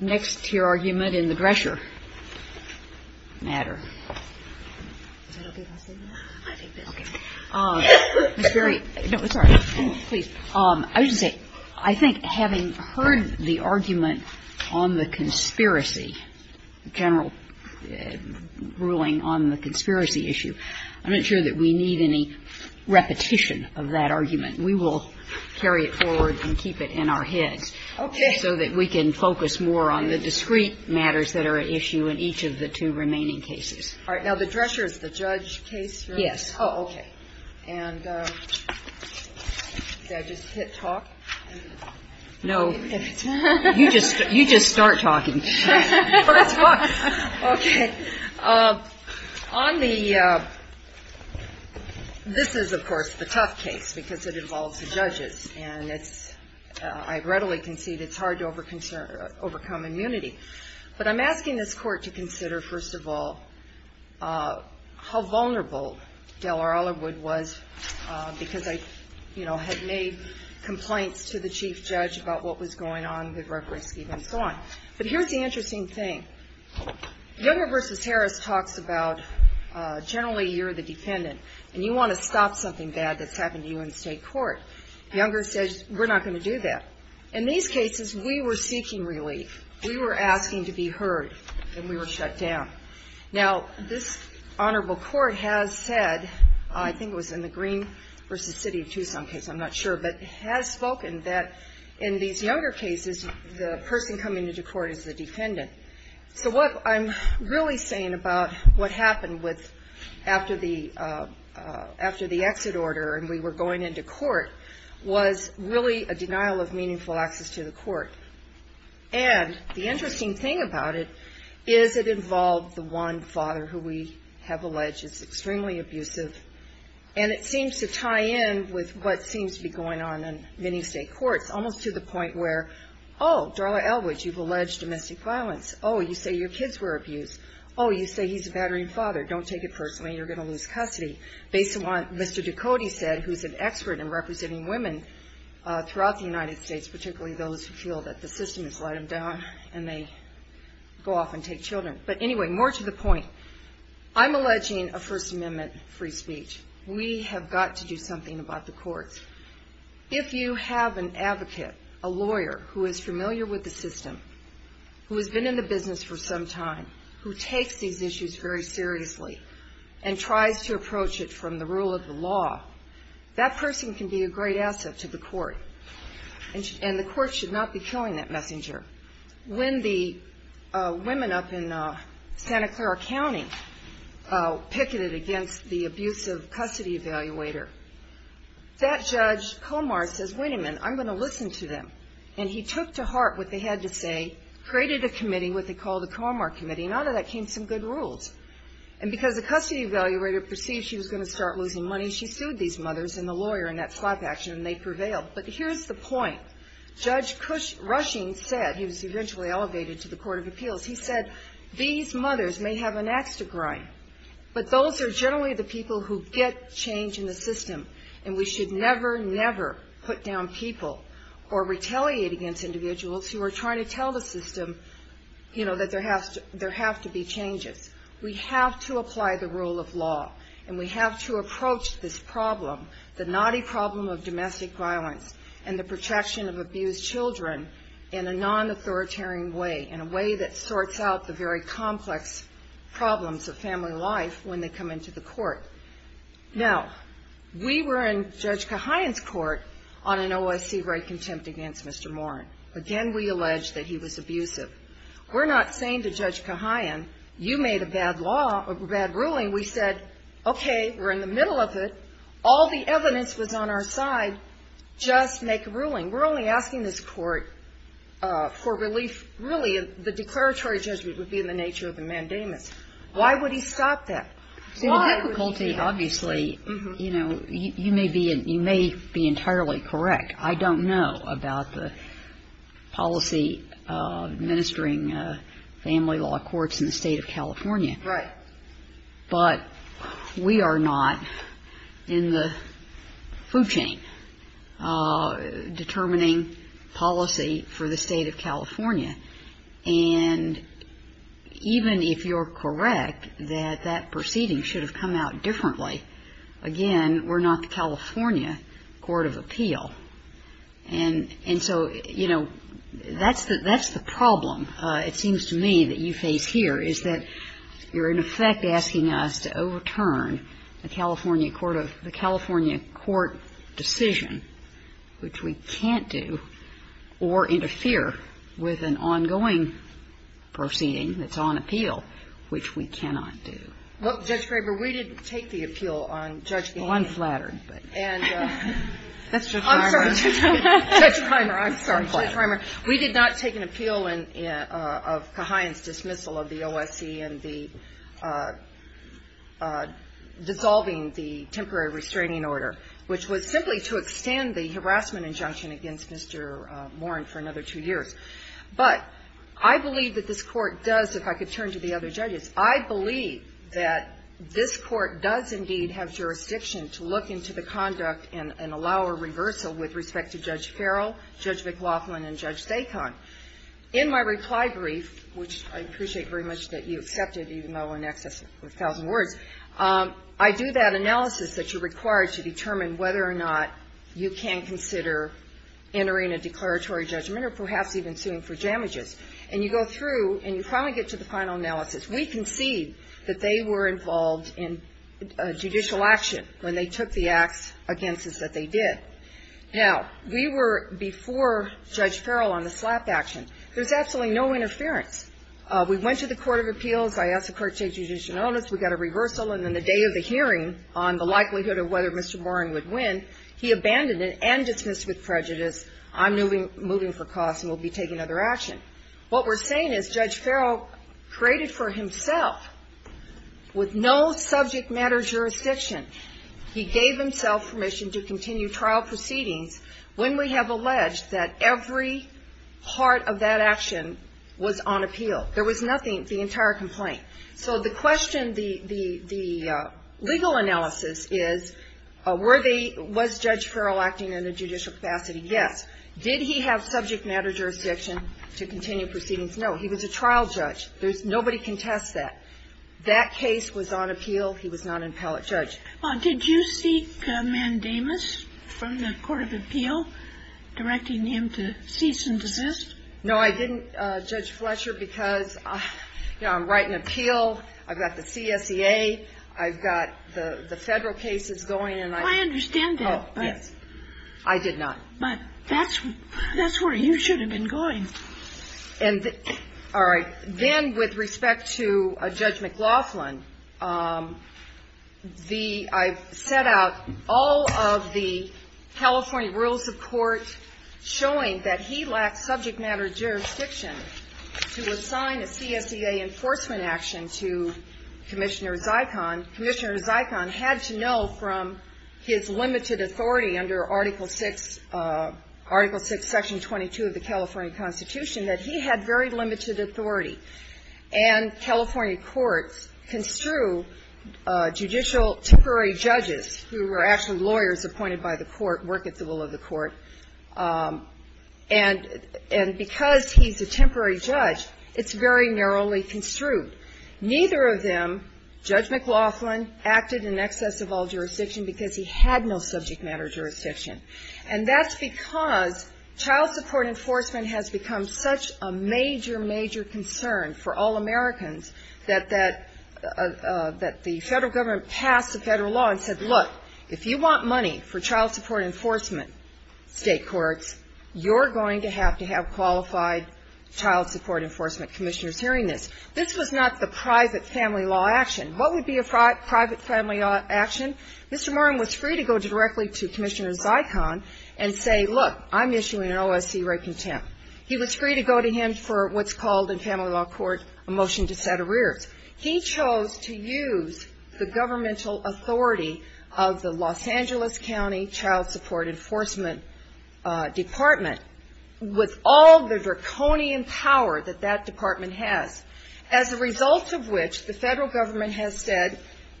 Next to your argument in the Drescher matter, I think having heard the argument on the conspiracy, general ruling on the conspiracy issue, I'm not sure that we need any repetition of that argument. We will carry it forward and keep it in our heads so that we can focus more on the discrete matters that are at issue in each of the two remaining cases. This is, of course, the tough case because it involves the judges, and I readily concede it's hard to overcome immunity. But I'm asking this Court to consider, first of all, how vulnerable Deller Oliverwood was because I, you know, had made complaints to the Chief Judge about what was going on with Referee Skeeve and so on. But here's the interesting thing. Younger v. Harris talks about generally you're the defendant, and you want to stop something bad that's happened to you in state court. Younger says we're not going to do that. In these cases, we were seeking relief. We were asking to be heard, and we were shut down. Now, this Honorable Court has said, I think it was in the Green v. City of Tucson case, I'm not sure, but has spoken that in these younger cases, the person coming into court is the defendant. So what I'm really saying about what happened after the exit order and we were going into court was really a denial of meaningful access to the court. And the interesting thing about it is it involved the one father who we have alleged is extremely abusive. And it seems to tie in with what seems to be going on in many state courts, almost to the point where, oh, Darla Elwood, you've alleged domestic violence. Oh, you say your kids were abused. Oh, you say he's a battering father. Don't take it personally. You're going to lose custody. Based on what Mr. Ducote said, who's an expert in representing women throughout the United States, particularly those who feel that the system has let them down and they go off and take children. But anyway, more to the point, I'm alleging a First Amendment free speech. We have got to do something about the courts. If you have an advocate, a lawyer who is familiar with the system, who has been in the business for some time, who takes these issues very seriously and tries to approach it from the rule of the law, that person can be a great asset to the court. And the court should not be killing that messenger. When the women up in Santa Clara County picketed against the abusive custody evaluator, that judge, Comar, says, wait a minute. I'm going to listen to them. And he took to heart what they had to say, created a committee, what they call the Comar Committee, and out of that came some good rules. And because the custody evaluator perceived she was going to start losing money, she sued these mothers and the lawyer in that slap action, and they prevailed. But here's the point. Judge Cush Rushing said, he was eventually elevated to the Court of Appeals, he said, these mothers may have an ax to grind, but those are generally the people who get change in the system, and we should never, never put down people or retaliate against individuals who are trying to tell the system, you know, that there have to be changes. We have to apply the rule of law, and we have to approach this problem, the naughty problem of domestic violence and the protection of abused children in a non-authoritarian way, in a way that sorts out the very complex problems of family life when they come into the court. Now, we were in Judge Cahayan's court on an OSC right contempt against Mr. Moran. Again, we alleged that he was abusive. We're not saying to Judge Cahayan, you made a bad law, a bad ruling. We said, okay, we're in the middle of it. All the evidence was on our side. Just make a ruling. We're only asking this court for relief, really, the declaratory judgment would be in the nature of the mandamus. Why would he stop that? So the difficulty, obviously, you know, you may be entirely correct. I don't know about the policy administering family law courts in the State of California. Right. But we are not in the food chain determining policy for the State of California. And even if you're correct that that proceeding should have come out differently, again, we're not the California Court of Appeal. And so, you know, that's the problem, it seems to me, that you face here, is that you're, in effect, asking us to overturn the California Court decision, which we can't do, or interfere with an ongoing proceeding that's on appeal, which we cannot do. Well, Judge Graber, we didn't take the appeal on Judge Gannon. Well, I'm flattered. And Judge Reimer, I'm sorry, Judge Reimer, we did not take an appeal of Cahayan's dismissal of the OSC and the dissolving the temporary restraining order, which was simply to extend the harassment injunction against Mr. Warren for another two years. But I believe that this Court does, if I could turn to the other judges, I believe that this Court does indeed have jurisdiction to look into the conduct and allow a reversal with respect to Judge Farrell, Judge McLaughlin, and Judge Dacon. In my reply brief, which I appreciate very much that you accepted, even though in excess of a thousand words, I do that analysis that you're required to determine whether or not you can consider entering a declaratory judgment or perhaps even suing for damages. And you go through and you finally get to the final analysis. We concede that they were involved in judicial action when they took the acts against us that they did. Now, we were, before Judge Farrell, on the slap action. There's absolutely no interference. We went to the Court of Appeals. I asked the Court to take judicial notice. We got a reversal. And then the day of the hearing on the likelihood of whether Mr. Warren would win, he abandoned it and dismissed it with prejudice. I'm moving for cause and will be taking other action. What we're saying is Judge Farrell created for himself, with no subject matter jurisdiction, he gave himself permission to continue trial proceedings when we have appeal. There was nothing, the entire complaint. So the question, the legal analysis is, was Judge Farrell acting in a judicial capacity? Yes. Did he have subject matter jurisdiction to continue proceedings? No. He was a trial judge. Nobody can test that. That case was on appeal. He was not an appellate judge. Did you seek mandamus from the Court of Appeal directing him to cease and desist? No, I didn't, Judge Fletcher, because, you know, I'm writing appeal. I've got the CSEA. I've got the Federal cases going. And I don't know. I understand that. Yes. I did not. But that's where you should have been going. All right. Then with respect to Judge McLaughlin, the – I've set out all of the California rules of court showing that he lacked subject matter jurisdiction to assign a CSEA enforcement action to Commissioner Zykon. Commissioner Zykon had to know from his limited authority under Article VI, Article VI, Section 22 of the California Constitution that he had very limited authority. And California courts construe judicial temporary judges who were actually lawyers appointed by the court, work at the will of the court. And because he's a temporary judge, it's very narrowly construed. Neither of them, Judge McLaughlin, acted in excess of all jurisdiction because he had no subject matter jurisdiction. And that's because child support enforcement has become such a major, major concern for all enforcement. State courts, you're going to have to have qualified child support enforcement commissioners hearing this. This was not the private family law action. What would be a private family law action? Mr. Moran was free to go directly to Commissioner Zykon and say, look, I'm issuing an OSC rape contempt. He was free to go to him for what's called in family law court a motion to set arrears. He chose to use the governmental authority of the Los Angeles County Child Support Enforcement Department with all the draconian power that that department has. As a result of which, the federal government has said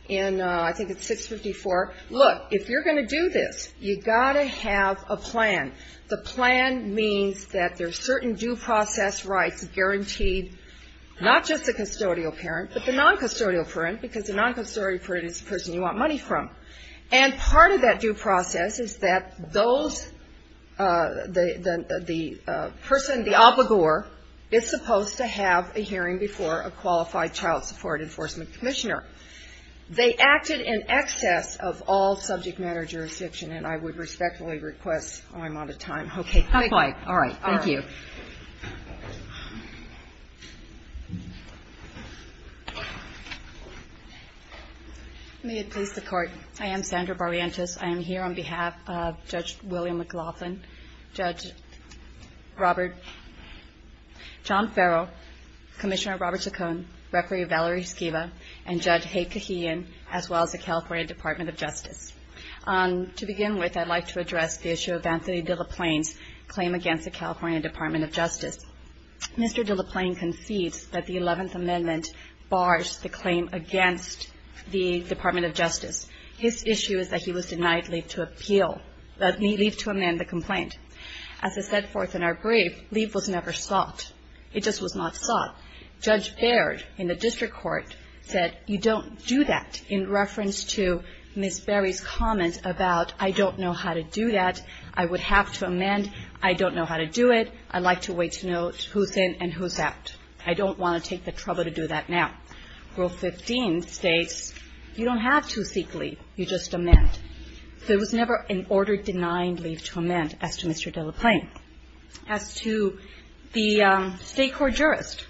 in, I think it's 654, look, if you're going to do this, you've got to have a plan. The plan means that there's certain due process rights guaranteed, not just the custodial parents, but the non-custodial parent, because the non-custodial parent is the person you want money from. And part of that due process is that those, the person, the obligor is supposed to have a hearing before a qualified child support enforcement commissioner. They acted in excess of all subject matter jurisdiction, and I would respectfully request my amount of time. Okay. Not quite. All right. Thank you. May it please the Court. I am Sandra Barrientos. I am here on behalf of Judge William McLaughlin, Judge Robert, John Farrell, Commissioner Robert Saccone, Referee Valerie Skiva, and Judge Hayde Kahian, as well as the California Department of Justice. To begin with, I'd like to address the issue of Anthony De La Plain's claim against the California Department of Justice. Mr. De La Plain concedes that the Eleventh Amendment bars the claim against the Department of Justice. His issue is that he was denied leave to appeal, leave to amend the complaint. As I said forth in our brief, leave was never sought. It just was not sought. Judge Baird in the district court said, you don't do that, in reference to Ms. Barry's comment about, I don't know how to do that. I would have to amend. I don't know how to do it. I'd like to wait to know who's in and who's out. I don't want to take the trouble to do that now. Rule 15 states you don't have to seek leave. You just amend. There was never an order denying leave to amend, as to Mr. De La Plain. As to the State Court jurist,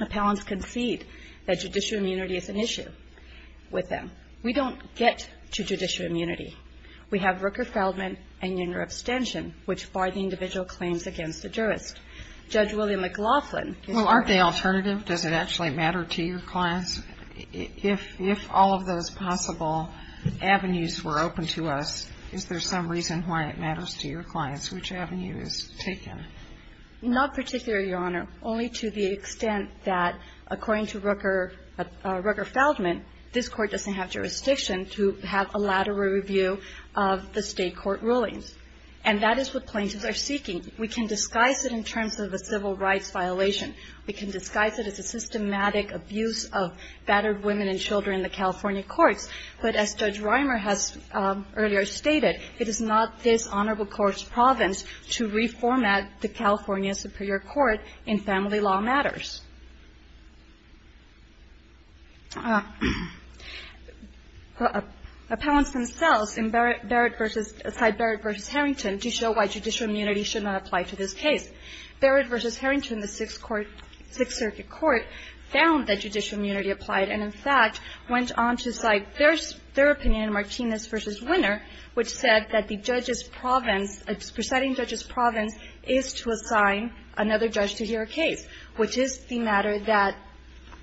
appellants concede that judicial immunity is an issue with them. We don't get to judicial immunity. We have Rooker-Feldman and unioner abstention, which bar the individual claims against the jurist. Judge William McLaughlin. Well, aren't they alternative? Does it actually matter to your clients? If all of those possible avenues were open to us, is there some reason why it matters to your clients? Which avenue is taken? Not particularly, Your Honor. Only to the extent that, according to Rooker-Feldman, this Court doesn't have jurisdiction to have a lateral review of the State Court rulings. And that is what plaintiffs are seeking. We can disguise it in terms of a civil rights violation. We can disguise it as a systematic abuse of battered women and children in the California courts. But as Judge Reimer has earlier stated, it is not this honorable court's province to reformat the California Superior Court in family law matters. Appellants themselves side Barrett v. Harrington to show why judicial immunity should not apply to this case. Barrett v. Harrington, the Sixth Circuit Court, found that judicial immunity applied and, in fact, went on to cite their opinion in Martinez v. Winner, which said that the judge's province, presiding judge's province, is to assign another judge to hear a case, which is the matter that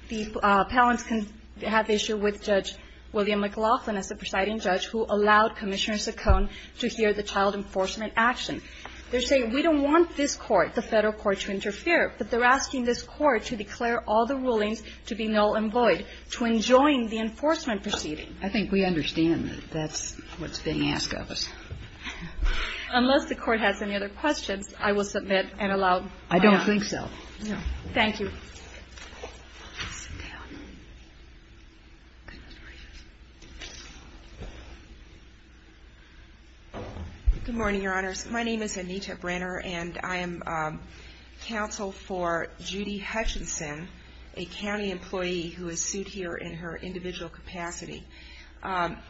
the appellants can have issue with Judge William McLaughlin as the presiding judge who allowed Commissioner Saccone to hear the child enforcement action. They're saying, we don't want this Court, the Federal Court, to interfere, but they're asking this Court to declare all the rulings to be null and void, to enjoin the enforcement proceeding. I think we understand that that's what's being asked of us. Unless the Court has any other questions, I will submit and allow time. I don't think so. Thank you. Good morning, Your Honors. My name is Anita Brenner, and I am counsel for Judy Hutchinson, a county employee who is sued here in her individual capacity.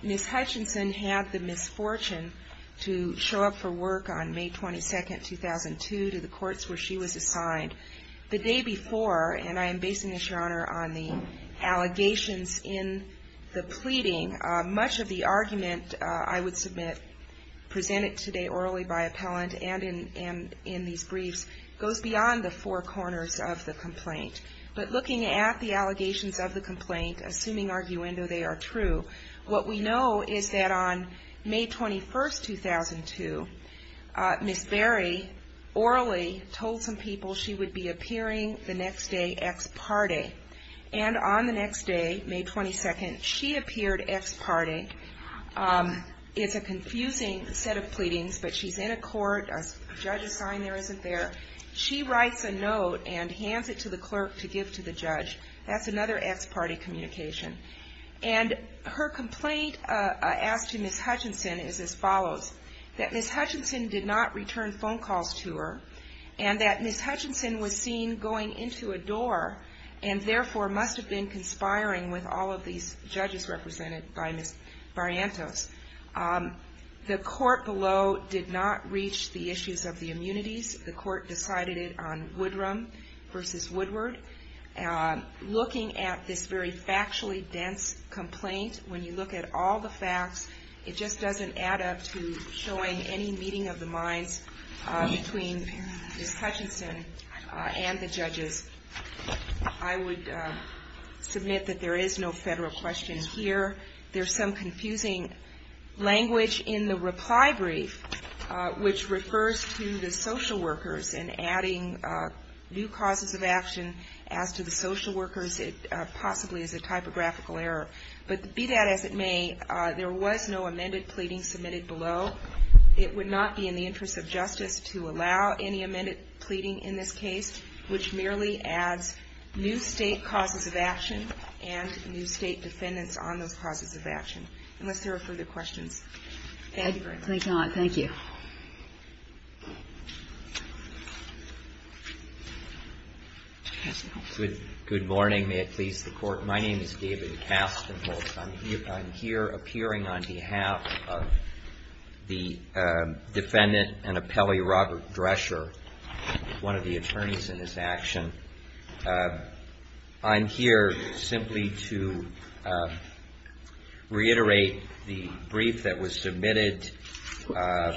Ms. Hutchinson had the misfortune to show up for work on May 22, 2002, to the courts where she was assigned. The day before, and I am basing this, Your Honor, on the allegations in the pleading, much of the argument, I would submit, presented today orally by appellant and in these briefs, goes beyond the four corners of the complaint. But looking at the allegations of the complaint, assuming arguendo they are true, what we know is that on May 21, 2002, Ms. Berry orally told some people she would be appearing the next day ex parte. And on the next day, May 22, she appeared ex parte. It's a confusing set of pleadings, but she's in a court. A judge's sign there isn't there. She writes a note and hands it to the clerk to give to the judge. That's another ex parte communication. And her complaint asked to Ms. Hutchinson is as follows, that Ms. Hutchinson did not return and therefore must have been conspiring with all of these judges represented by Ms. Barrientos. The court below did not reach the issues of the immunities. The court decided it on Woodrum versus Woodward. Looking at this very factually dense complaint, when you look at all the facts, it just doesn't add up to showing any meeting of the minds between Ms. Hutchinson and the judges. I would submit that there is no federal question here. There's some confusing language in the reply brief, which refers to the social workers and adding new causes of action as to the social workers, possibly as a typographical error. But be that as it may, there was no amended pleading submitted below. It would not be in the interest of justice to allow any amended pleading in this case, which merely adds new state causes of action and new state defendants on those causes of action. Unless there are further questions. Thank you very much. Thank you. Good morning. May it please the Court. My name is David Kastenholz. I'm here appearing on behalf of the defendant and appellee Robert Drescher, one of the attorneys in this action. I'm here simply to reiterate the brief that was submitted.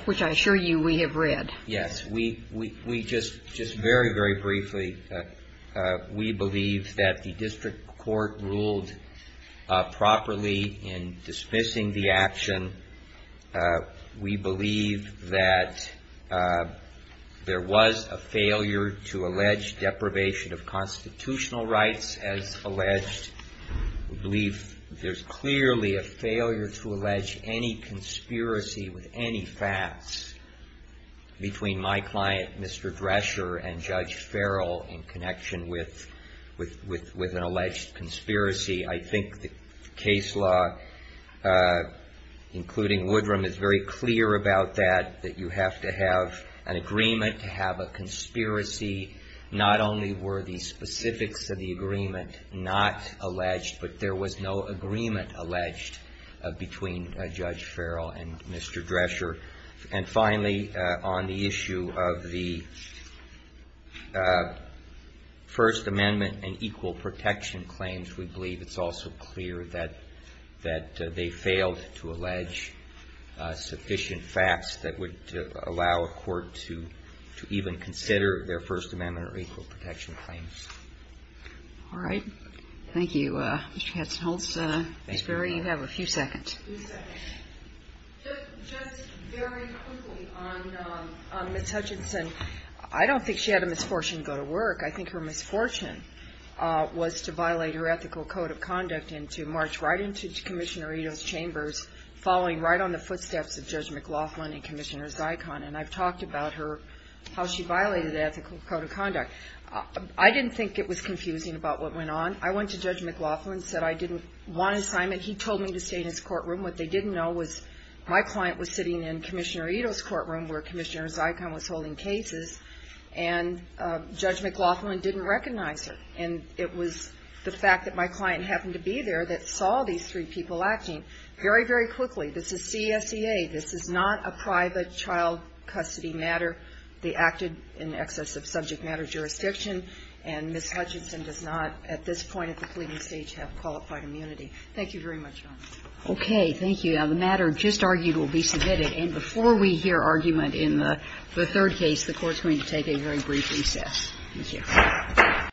Which I assure you we have read. Yes. We just very, very briefly. We believe that the district court ruled properly in dismissing the action. We believe that there was a failure to allege deprivation of constitutional rights as alleged. We believe there's clearly a failure to allege any conspiracy with any facts between my client, Mr. Drescher, and Judge Farrell in connection with an alleged conspiracy. I think the case law, including Woodrum, is very clear about that, that you have to have an agreement to have a conspiracy not only were the specifics of the agreement not alleged, but there was no agreement alleged between Judge Farrell and Mr. Drescher. And finally, on the issue of the First Amendment and equal protection claims, we believe it's also clear that they failed to allege sufficient facts that would allow a court to even consider their First Amendment or equal protection claims. All right. Mr. Katzenholz. Ms. Berry, you have a few seconds. Just very quickly on Ms. Hutchinson. I don't think she had a misfortune to go to work. I think her misfortune was to violate her ethical code of conduct and to march right into Commissioner Ito's chambers, following right on the footsteps of Judge McLaughlin and Commissioner Zykon. And I've talked about her, how she violated the ethical code of conduct. I didn't think it was confusing about what went on. I went to Judge McLaughlin, said I didn't want an assignment. He told me to stay in his courtroom. What they didn't know was my client was sitting in Commissioner Ito's courtroom, where Commissioner Zykon was holding cases, and Judge McLaughlin didn't recognize her. And it was the fact that my client happened to be there that saw these three people acting very, very quickly. This is CSEA. This is not a private child custody matter. They acted in excess of subject matter jurisdiction, and Ms. Hutchinson does not at this point at the pleading stage have qualified immunity. Thank you very much, Your Honor. Okay. Thank you. Now, the matter just argued will be submitted. And before we hear argument in the third case, the Court's going to take a very brief recess. Thank you.